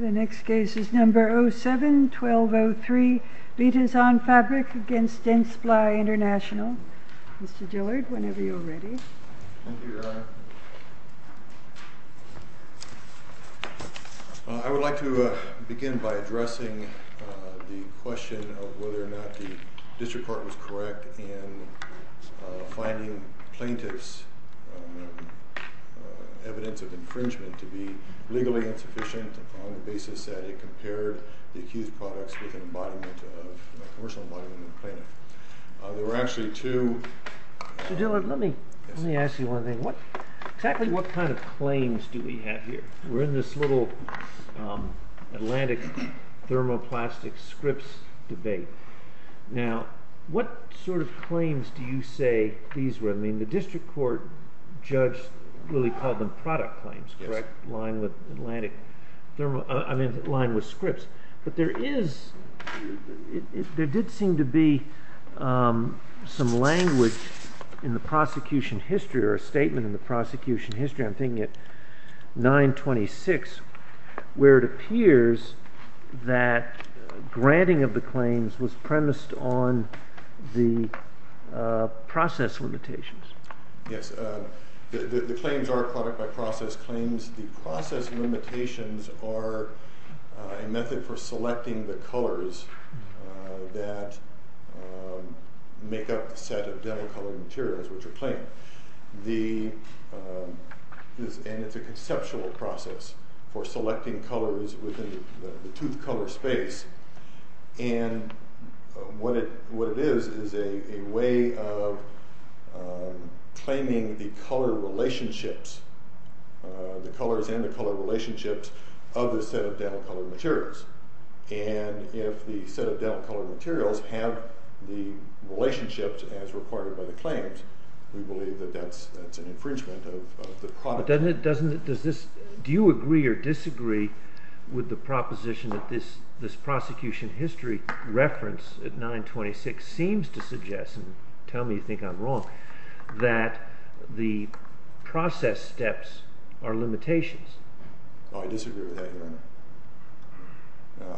The next case is number 07-1203, Betazan Fabric against Dentsply International. Mr. Dillard, whenever you're ready. Thank you, Your Honor. I would like to begin by addressing the question of whether or not the district court was correct in finding plaintiffs' evidence of infringement to be legally insufficient on the basis that it compared the accused products with a commercial embodiment of a plaintiff. There were actually two... Mr. Dillard, let me ask you one thing. Exactly what kind of claims do we have here? We're in this little Atlantic thermoplastic scripts debate. Now, what sort of claims do you say these were? I mean, the district court judge really called them product claims, correct? Yes. Lined with Atlantic... I mean, lined with scripts. But there is... there did seem to be some language in the prosecution history or a statement in the prosecution history, I'm thinking at 926, where it appears that granting of the claims was premised on the process limitations. Yes. The claims are product by process claims. The process limitations are a method for selecting the colors that make up the set of dental colored materials which are claimed. And it's a conceptual process for selecting colors within the tooth color space. And what it is is a way of claiming the color relationships, the colors and the color relationships of the set of dental colored materials. And if the set of dental colored materials have the relationships as required by the claims, we believe that that's an infringement of the product. Doesn't it... does this... do you agree or disagree with the proposition that this prosecution history reference at 926 seems to suggest, and tell me you think I'm wrong, that the process steps are limitations? Oh, I disagree with that, Your Honor.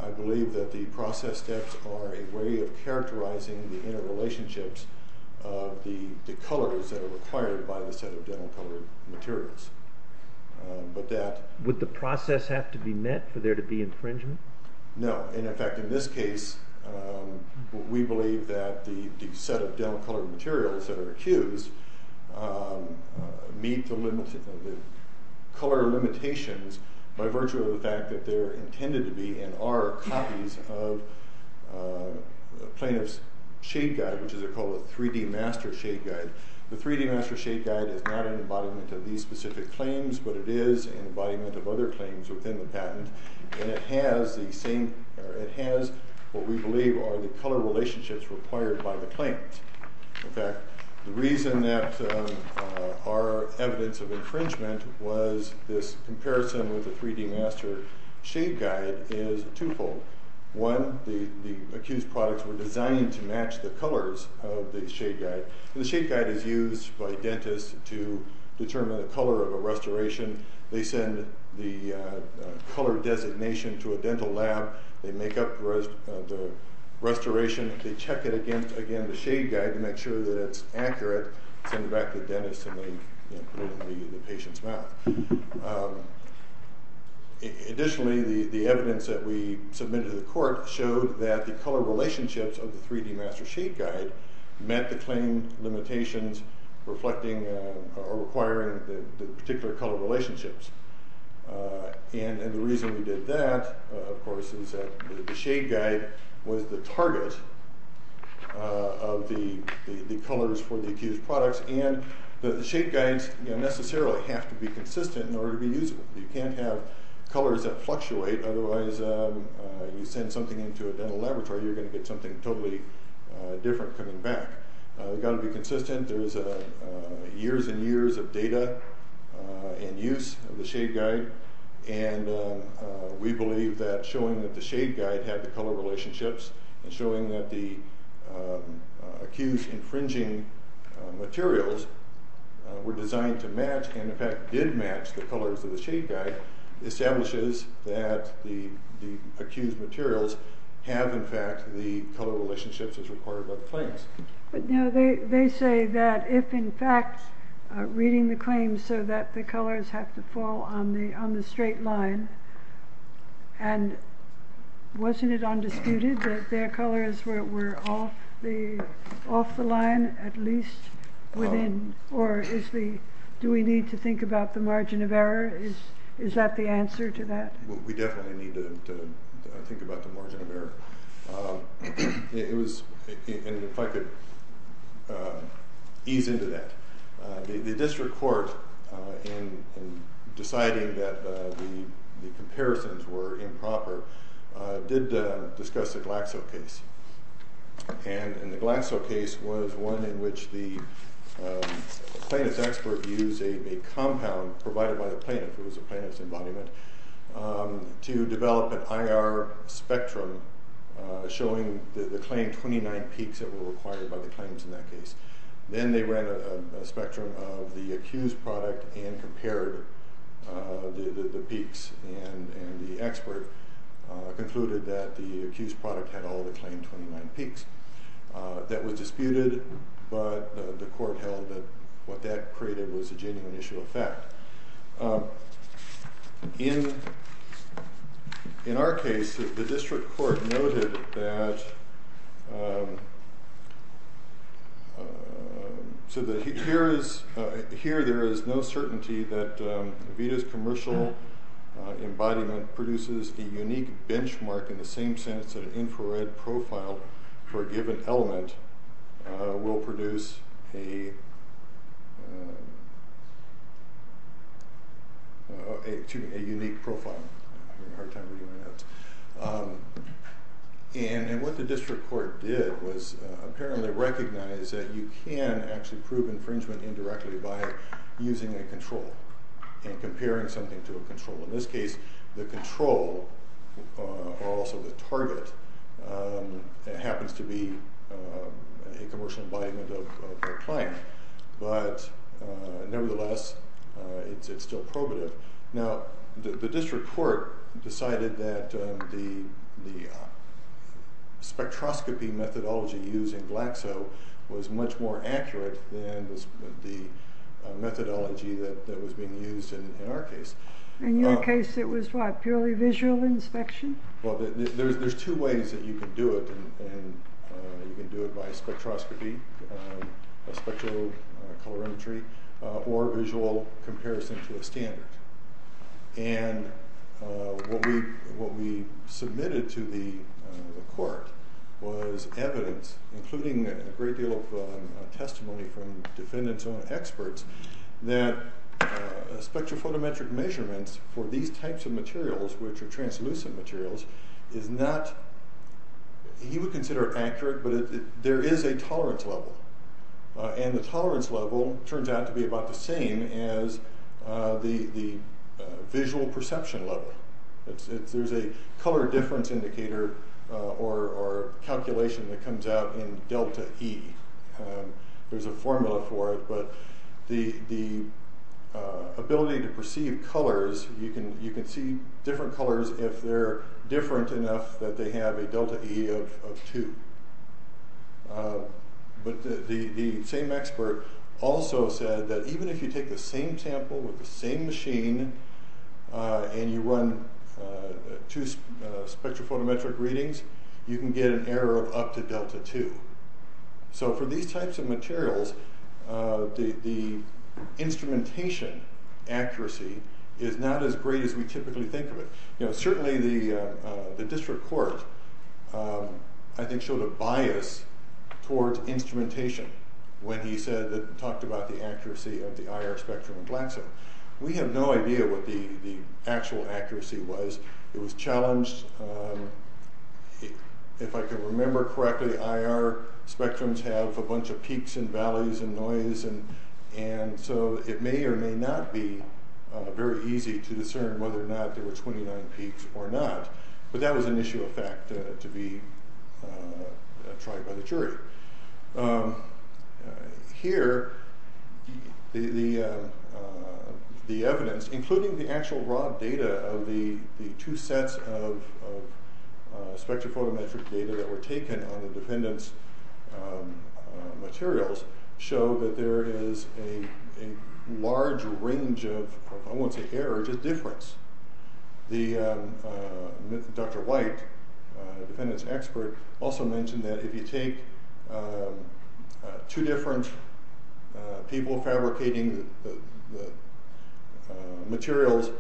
I believe that the process steps are a way of characterizing the interrelationships of the colors that are required by the set of dental colored materials. But that... Would the process have to be met for there to be infringement? No. And in fact, in this case, we believe that the set of dental colored materials that are accused meet the color limitations by virtue of the fact that they're intended to be and are copies of plaintiff's shade guide, which is called a 3D Master Shade Guide. The 3D Master Shade Guide is not an embodiment of these specific claims, but it is an embodiment of other claims within the patent. And it has the same... it has what we believe are the color relationships required by the claims. In fact, the reason that our evidence of infringement was this comparison with the 3D Master Shade Guide is twofold. One, the accused products were designed to match the colors of the shade guide. And the shade guide is used by dentists to determine the color of a restoration. They send the color designation to a dental lab. They make up the restoration. They check it against, again, the shade guide to make sure that it's accurate. Send it back to the dentist and they put it in the patient's mouth. Additionally, the evidence that we submitted to the court showed that the color relationships of the 3D Master Shade Guide met the claim limitations reflecting or requiring the particular color relationships. And the reason we did that, of course, is that the shade guide was the target of the colors for the accused products. And the shade guides necessarily have to be consistent in order to be usable. You can't have colors that fluctuate. Otherwise, you send something into a dental laboratory, you're going to get something totally different coming back. It's got to be consistent. There's years and years of data and use of the shade guide. And we believe that showing that the shade guide had the color relationships and showing that the accused infringing materials were designed to match and, in fact, did match the colors of the shade guide establishes that the accused materials have, in fact, the color relationships as required by the claims. They say that if, in fact, reading the claims so that the colors have to fall on the straight line, and wasn't it undisputed that their colors were off the line at least within, or do we need to think about the margin of error? Is that the answer to that? We definitely need to think about the margin of error. If I could ease into that, the district court, in deciding that the comparisons were improper, did discuss the Glaxo case. And the Glaxo case was one in which the plaintiff's expert used a compound provided by the plaintiff, it was a plaintiff's embodiment, to develop an IR spectrum showing the claimed 29 peaks that were required by the claims in that case. Then they ran a spectrum of the accused product and compared the peaks, and the expert concluded that the accused product had all the claimed 29 peaks. That was disputed, but the court held that what that created was a genuine issue of fact. In our case, the district court noted that, here there is no certainty that Avita's commercial embodiment produces a unique benchmark, in the same sense that an infrared profile for a given element will produce a unique profile. I'm having a hard time reading my notes. And what the district court did was apparently recognize that you can actually prove infringement indirectly by using a control and comparing something to a control. In this case, the control, or also the target, happens to be a commercial embodiment of a client. But nevertheless, it's still probative. Now, the district court decided that the spectroscopy methodology used in Glaxo was much more accurate than the methodology that was being used in our case. In your case, it was what, purely visual inspection? Well, there's two ways that you can do it, and you can do it by spectroscopy, spectro-colorimetry, or visual comparison to a standard. And what we submitted to the court was evidence, including a great deal of testimony from defendants' own experts, that spectrophotometric measurements for these types of materials, which are translucent materials, is not, he would consider accurate, but there is a tolerance level. And the tolerance level turns out to be about the same as the visual perception level. There's a color difference indicator or calculation that comes out in delta E. There's a formula for it, but the ability to perceive colors, you can see different colors if they're different enough that they have a delta E of 2. But the same expert also said that even if you take the same sample with the same machine, and you run two spectrophotometric readings, you can get an error of up to delta 2. So for these types of materials, the instrumentation accuracy is not as great as we typically think of it. Certainly, the district court, I think, showed a bias towards instrumentation when he talked about the accuracy of the IR spectrum in Glaxo. We have no idea what the actual accuracy was. It was challenged, if I can remember correctly, IR spectrums have a bunch of peaks and valleys and noise, and so it may or may not be very easy to discern whether or not there were 29 peaks or not. But that was an issue of fact to be tried by the jury. Here, the evidence, including the actual raw data of the two sets of spectrophotometric data that were taken on the dependence materials, show that there is a large range of, I won't say error, just difference. Dr. White, a dependence expert, also mentioned that if you take two different people fabricating materials,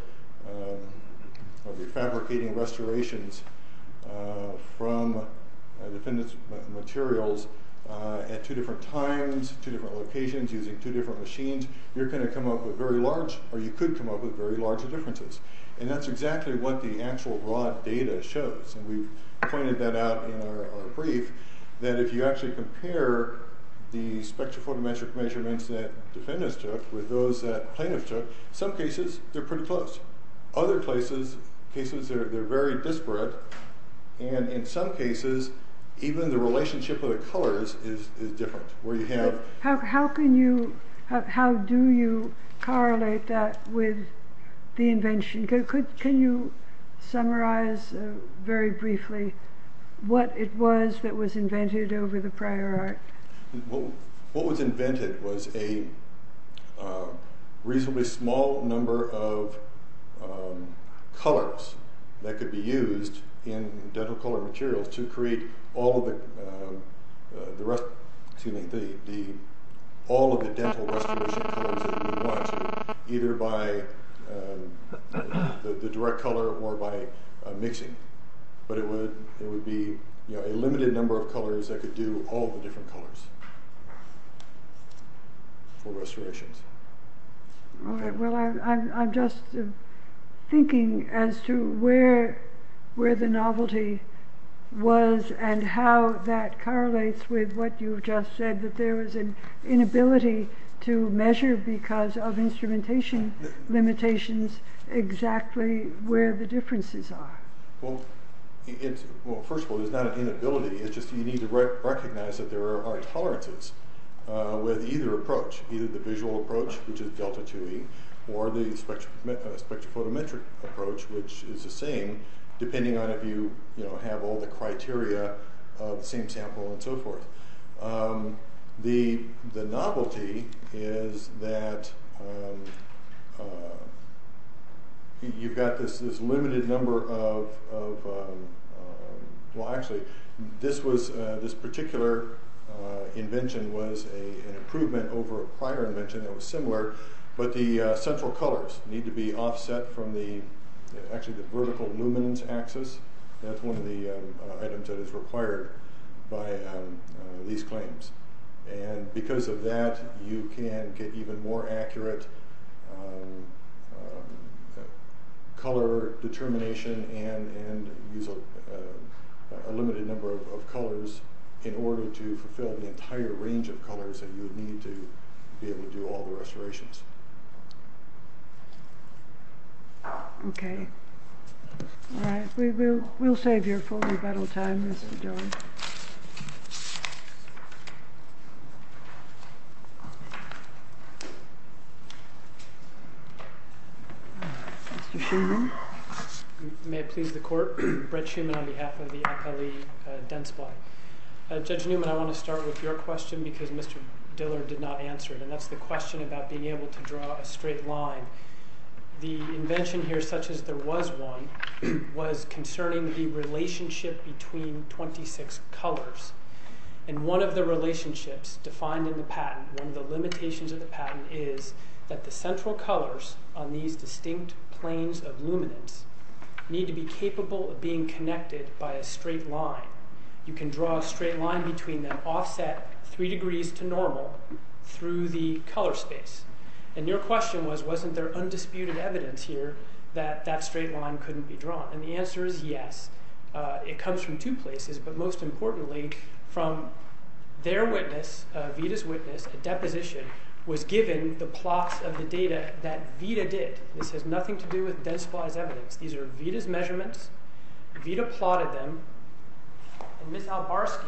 fabricating restorations from dependence materials at two different times, two different locations, using two different machines, you're going to come up with very large, or you could come up with very large differences. And that's exactly what the actual raw data shows, and we've pointed that out in our brief, that if you actually compare the spectrophotometric measurements that defendants took with those that plaintiffs took, in some cases, they're pretty close. Other cases, they're very disparate, and in some cases, even the relationship of the colors is different, where you have... How do you correlate that with the invention? Can you summarize very briefly what it was that was invented over the prior art? What was invented was a reasonably small number of colors that could be used in dental colored materials to create all of the dental restoration colors that we want, either by the direct color or by mixing. But it would be a limited number of colors that could do all the different colors for restorations. Well, I'm just thinking as to where the novelty was and how that correlates with what you've just said, that there was an inability to measure, because of instrumentation limitations, exactly where the differences are. Well, first of all, there's not an inability, it's just that you need to recognize that there are tolerances with either approach, either the visual approach, which is Delta IIe, or the spectrophotometric approach, which is the same, depending on if you have all the criteria of the same sample and so forth. The novelty is that you've got this limited number of... Actually, this particular invention was an improvement over a prior invention that was similar, but the central colors need to be offset from the vertical luminance axis. That's one of the items that is required by these claims. Because of that, you can get even more accurate color determination and use a limited number of colors in order to fulfill the entire range of colors that you would need to be able to do all the restorations. Okay. All right. We'll save your full rebuttal time, Mr. Diller. Mr. Shuman? May it please the Court, Brett Shuman on behalf of the Akali Dense Body. Judge Newman, I want to start with your question, because Mr. Diller did not answer it, and that's the question about being able to draw a straight line. The invention here, such as there was one, was concerning the relationship between 26 colors. One of the relationships defined in the patent, one of the limitations of the patent, is that the central colors on these distinct planes of luminance need to be capable of being connected by a straight line. You can draw a straight line between them, offset three degrees to normal, through the color space. And your question was, wasn't there undisputed evidence here that that straight line couldn't be drawn? And the answer is yes. It comes from two places, but most importantly, from their witness, Vita's witness, a deposition was given the plots of the data that Vita did. This has nothing to do with Dense Body's evidence. These are Vita's measurements. Vita plotted them. And Ms. Albarski...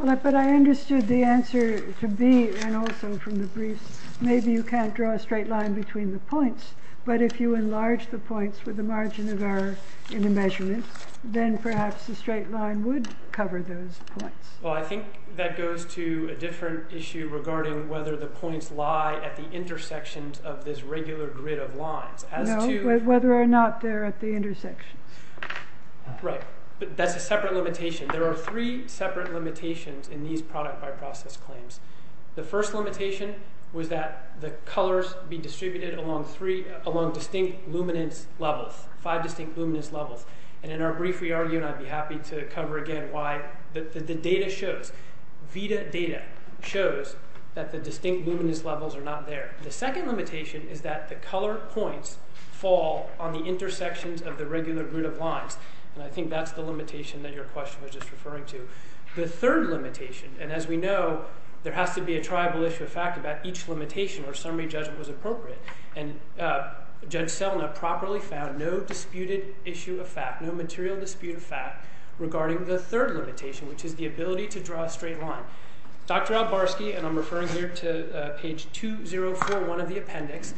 But I understood the answer to be, and also from the briefs, maybe you can't draw a straight line between the points, but if you enlarge the points with the margin of error in the measurement, then perhaps the straight line would cover those points. Well, I think that goes to a different issue regarding whether the points lie at the intersections of this regular grid of lines. No, whether or not they're at the intersections. Right, but that's a separate limitation. There are three separate limitations in these product by process claims. The first limitation was that the colors be distributed along distinct luminance levels, five distinct luminance levels. And in our brief, we argue, and I'd be happy to cover again why the data shows, Vita data shows that the distinct luminance levels are not there. The second limitation is that the color points fall on the intersections of the regular grid of lines. And I think that's the limitation that your question was just referring to. The third limitation, and as we know, there has to be a tribal issue of fact about each limitation or summary judgment was appropriate. And Judge Selna properly found no disputed issue of fact, no material dispute of fact, regarding the third limitation, which is the ability to draw a straight line. Dr. Albarski, and I'm referring here to page 2041 of the appendix.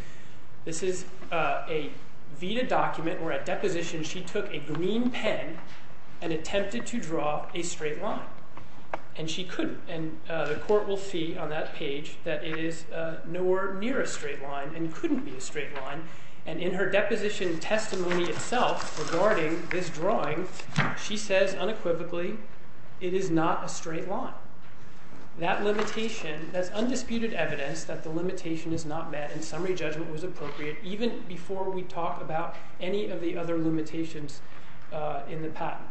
This is a Vita document where at deposition she took a green pen and attempted to draw a straight line. And she couldn't. And the court will see on that page that it is nowhere near a straight line and couldn't be a straight line. And in her deposition testimony itself regarding this drawing, she says unequivocally, it is not a straight line. That limitation, that's undisputed evidence that the limitation is not met and summary judgment was appropriate, even before we talk about any of the other limitations in the patent.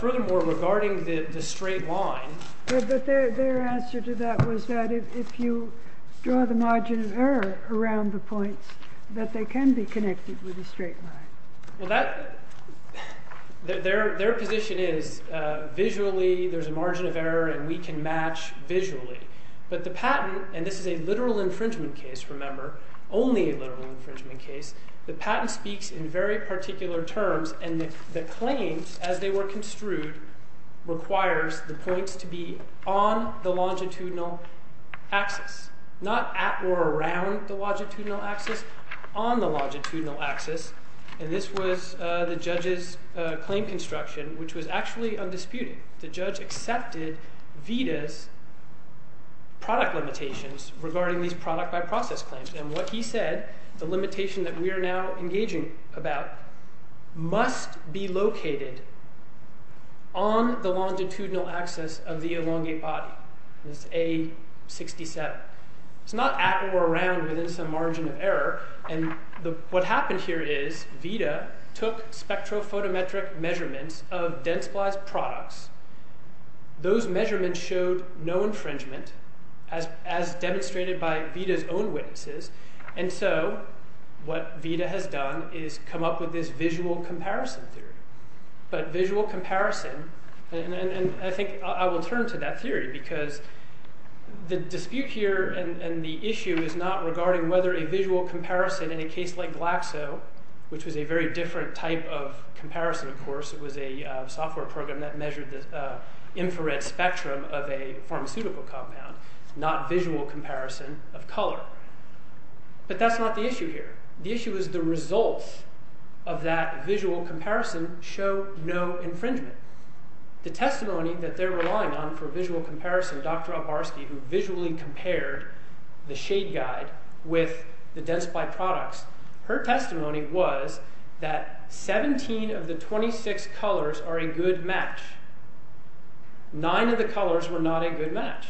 Furthermore, regarding the straight line. But their answer to that was that if you draw the margin of error around the points, that they can be connected with a straight line. Well, their position is visually there's a margin of error and we can match visually. But the patent, and this is a literal infringement case, remember, only a literal infringement case, the patent speaks in very particular terms and the claims as they were construed requires the points to be on the longitudinal axis. Not at or around the longitudinal axis, on the longitudinal axis. And this was the judge's claim construction, which was actually undisputed. The judge accepted Vita's product limitations regarding these product by process claims. And what he said, the limitation that we are now engaging about must be located on the longitudinal axis of the elongate body. It's A67. It's not at or around within some margin of error. And what happened here is Vita took spectrophotometric measurements of Densply's products. Those measurements showed no infringement as demonstrated by Vita's own witnesses. And so what Vita has done is come up with this visual comparison theory. But visual comparison, and I think I will turn to that theory because the dispute here and the issue is not regarding whether a visual comparison in a case like Glaxo, which was a very different type of comparison, of course. It was a software program that measured the infrared spectrum of a pharmaceutical compound, not visual comparison of color. But that's not the issue here. The issue is the results of that visual comparison show no infringement. The testimony that they're relying on for visual comparison, Dr. Albarski, who visually compared the shade guide with the Densply products, her testimony was that 17 of the 26 colors are a good match. Nine of the colors were not a good match.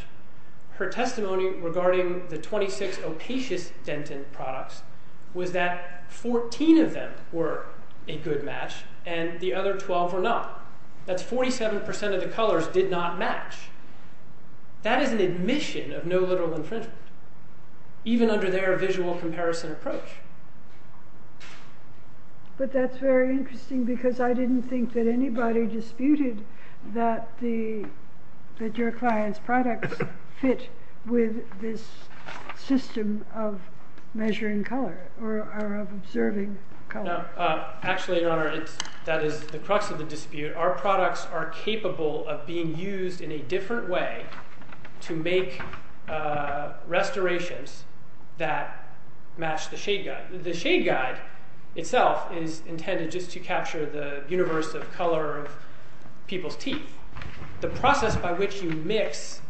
Her testimony regarding the 26 Opatious Dentin products was that 14 of them were a good match and the other 12 were not. That's 47% of the colors did not match. That is an admission of no literal infringement, even under their visual comparison approach. But that's very interesting because I didn't think that anybody disputed that your client's products fit with this system of measuring color or of observing color. Actually, Your Honor, that is the crux of the dispute. Our products are capable of being used in a different way to make restorations that match the shade guide. The shade guide itself is intended just to capture the universe of color of people's teeth. The process by which you mix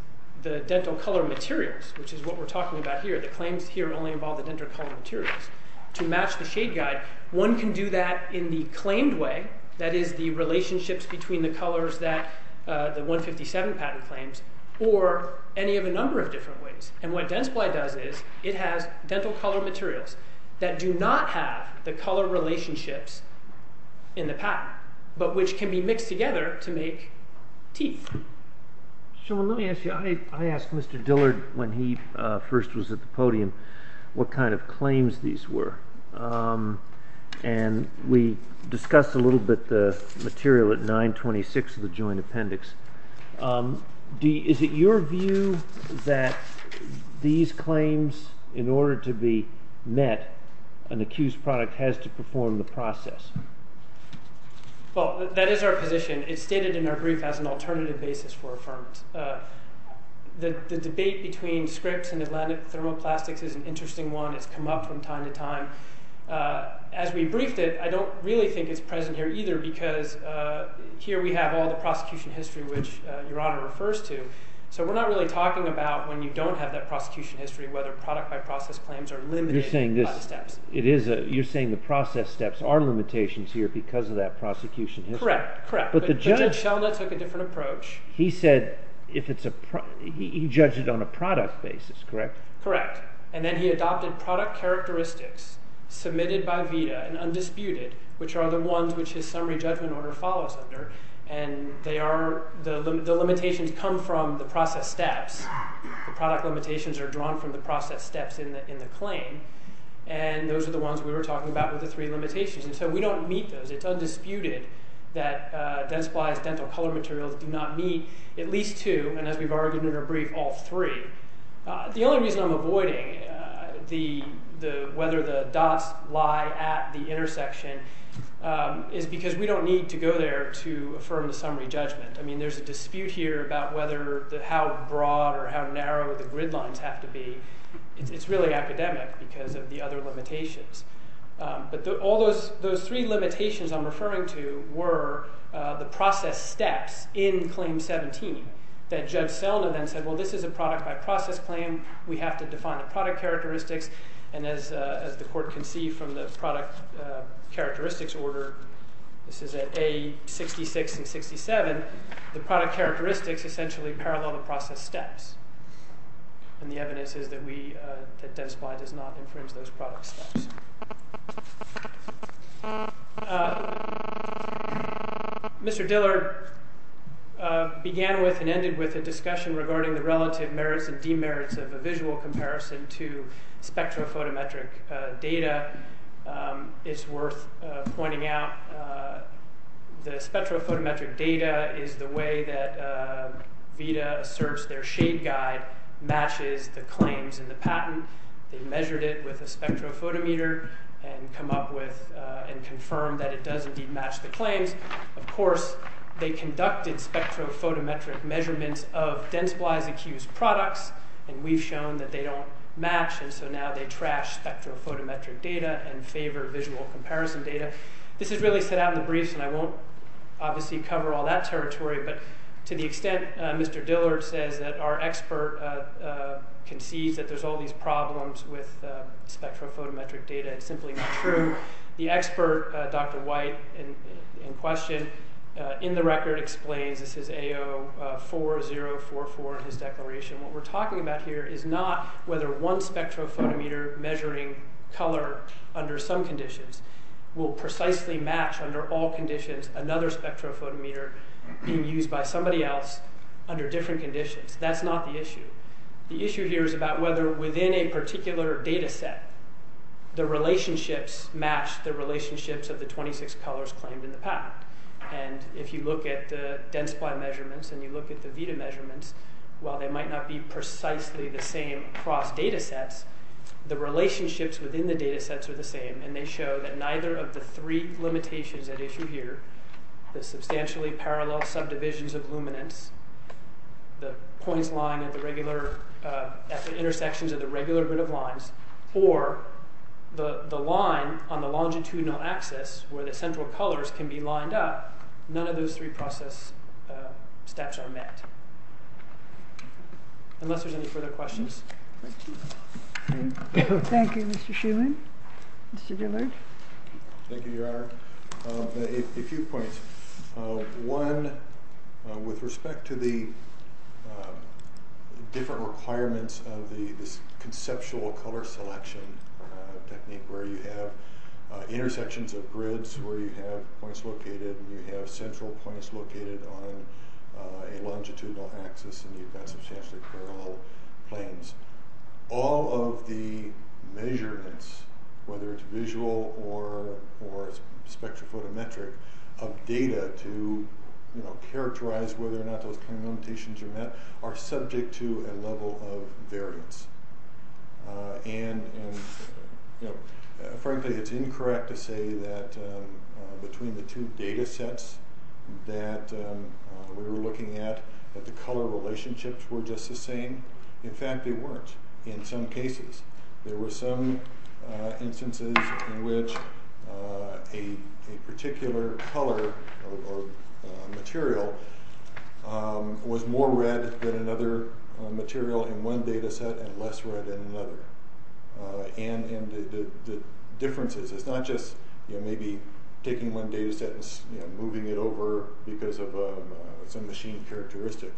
the dental color materials, which is what we're talking about here, the claims here only involve the dental color materials, to match the shade guide. One can do that in the claimed way, that is the relationships between the colors that the 157 patent claims, or any of a number of different ways. And what Densply does is it has dental color materials that do not have the color relationships in the patent, but which can be mixed together to make teeth. So let me ask you, I asked Mr. Dillard when he first was at the podium what kind of claims these were. And we discussed a little bit the material at 926 of the joint appendix. Is it your view that these claims, in order to be met, an accused product has to perform the process? Well, that is our position. It's stated in our brief as an alternative basis for affirmance. The debate between Scripps and Atlantic Thermoplastics is an interesting one. It's come up from time to time. As we briefed it, I don't really think it's present here either because here we have all the prosecution history, which Your Honor refers to. So we're not really talking about when you don't have that prosecution history whether product by process claims are limited by the steps. It is. You're saying the process steps are limitations here because of that prosecution history. Correct. Correct. But Judge Sheldon took a different approach. He said if it's a – he judged it on a product basis, correct? Correct. And then he adopted product characteristics submitted by VITA and undisputed, which are the ones which his summary judgment order follows under. And they are – the limitations come from the process steps. The product limitations are drawn from the process steps in the claim. And those are the ones we were talking about with the three limitations. And so we don't meet those. It's undisputed that dense splice dental color materials do not meet at least two, and as we've argued in our brief, all three. The only reason I'm avoiding the – whether the dots lie at the intersection is because we don't need to go there to affirm the summary judgment. I mean there's a dispute here about whether – how broad or how narrow the gridlines have to be. It's really academic because of the other limitations. But all those three limitations I'm referring to were the process steps in Claim 17 that Judge Selna then said, well, this is a product by process claim. We have to define the product characteristics. And as the court can see from the product characteristics order, this is at A66 and 67, the product characteristics essentially parallel the process steps. And the evidence is that we – that dense splice does not infringe those product steps. Mr. Dillard began with and ended with a discussion regarding the relative merits and demerits of a visual comparison to spectrophotometric data. It's worth pointing out the spectrophotometric data is the way that VIDA asserts their shade guide matches the claims in the patent. They measured it with a spectrophotometer and come up with and confirmed that it does indeed match the claims. Of course, they conducted spectrophotometric measurements of dense splice-accused products, and we've shown that they don't match. And so now they trash spectrophotometric data and favor visual comparison data. This is really set out in the briefs, and I won't obviously cover all that territory. But to the extent Mr. Dillard says that our expert concedes that there's all these problems with spectrophotometric data, it's simply not true. The expert, Dr. White, in question, in the record, explains this is AO4044 in his declaration. What we're talking about here is not whether one spectrophotometer measuring color under some conditions will precisely match under all conditions another spectrophotometer being used by somebody else under different conditions. That's not the issue. The issue here is about whether within a particular data set the relationships match the relationships of the 26 colors claimed in the patent. And if you look at the dense splice measurements and you look at the VITA measurements, while they might not be precisely the same across data sets, the relationships within the data sets are the same. And they show that neither of the three limitations at issue here, the substantially parallel subdivisions of luminance, the points lying at the regular – at the intersections of the regular grid of lines, or the line on the longitudinal axis where the central colors can be lined up, none of those three process steps are met. Unless there's any further questions. Thank you. Thank you, Mr. Shuman. Mr. Dillard. Thank you, Your Honor. A few points. One, with respect to the different requirements of this conceptual color selection technique where you have intersections of grids where you have points located and you have central points located on a longitudinal axis and you've got substantially parallel planes. All of the measurements, whether it's visual or spectrophotometric, of data to characterize whether or not those kind of limitations are met are subject to a level of variance. And frankly, it's incorrect to say that between the two data sets that we were looking at, that the color relationships were just the same. In fact, they weren't in some cases. There were some instances in which a particular color or material was more red than another material in one data set and less red than another. And the differences – it's not just maybe taking one data set and moving it over because of some machine characteristic.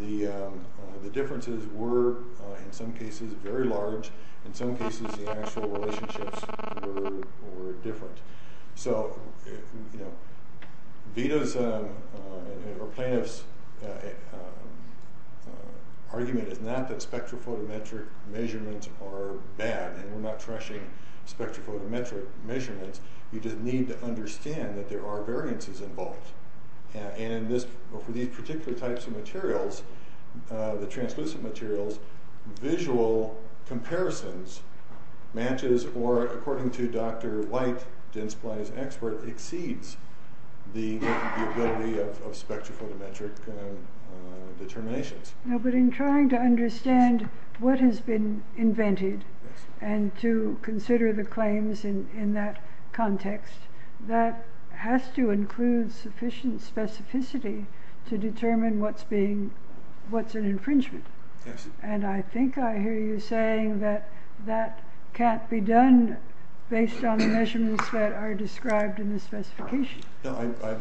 The differences were, in some cases, very large. In some cases, the actual relationships were different. So Vito's or Plaintiff's argument is not that spectrophotometric measurements are bad and we're not trashing spectrophotometric measurements. You just need to understand that there are variances involved. And for these particular types of materials, the translucent materials, visual comparisons matches or, according to Dr. White, Jen's Plaintiff's expert, exceeds the ability of spectrophotometric determinations. No, but in trying to understand what has been invented and to consider the claims in that context, that has to include sufficient specificity to determine what's an infringement. And I think I hear you saying that that can't be done based on the measurements that are described in the specification. No,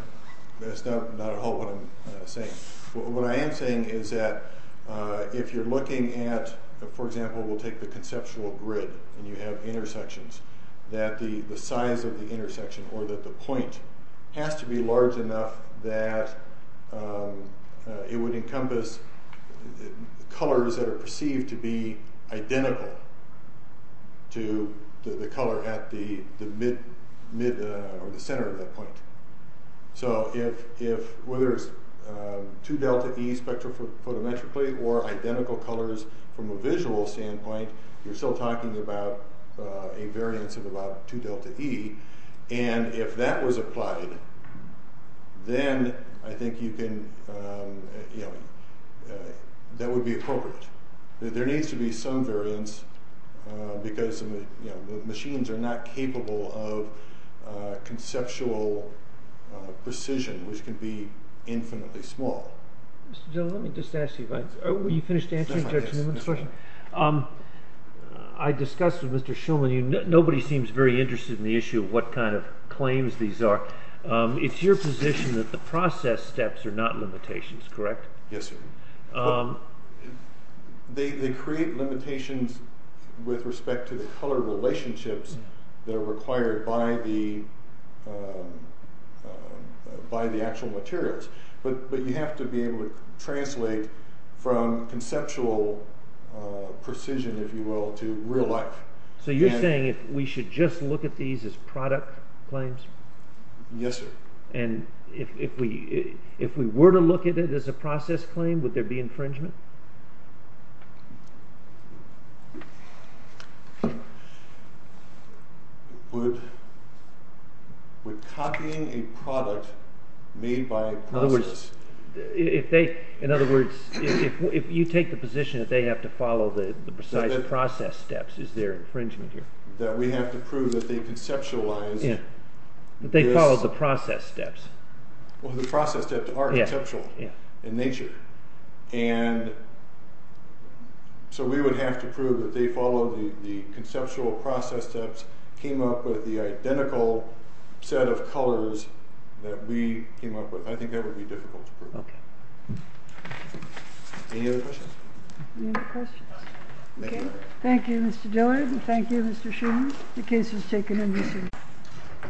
that's not at all what I'm saying. What I am saying is that if you're looking at, for example, we'll take the conceptual grid and you have intersections, that the size of the intersection or that the point has to be large enough that it would encompass colors that are perceived to be identical to the color at the center of that point. So whether it's 2 delta E spectrophotometrically or identical colors from a visual standpoint, you're still talking about a variance of about 2 delta E. And if that was applied, then I think you can, you know, that would be appropriate. There needs to be some variance because, you know, machines are not capable of conceptual precision, which can be infinitely small. Let me just ask you, are you finished answering Judge Newman's question? I discussed with Mr. Shulman, nobody seems very interested in the issue of what kind of claims these are. It's your position that the process steps are not limitations, correct? Yes, sir. They create limitations with respect to the color relationships that are required by the actual materials. But you have to be able to translate from conceptual precision, if you will, to real life. So you're saying we should just look at these as product claims? Yes, sir. And if we were to look at it as a process claim, would there be infringement? Would copying a product made by a process… In other words, if you take the position that they have to follow the precise process steps, is there infringement here? That we have to prove that they conceptualized… That they followed the process steps. Well, the process steps are conceptual in nature. And so we would have to prove that they followed the conceptual process steps, came up with the identical set of colors that we came up with. I think that would be difficult to prove. Okay. Any other questions? Any other questions? Okay. Thank you, Mr. Dillard. Thank you, Mr. Schumer. The case is taken in this hearing.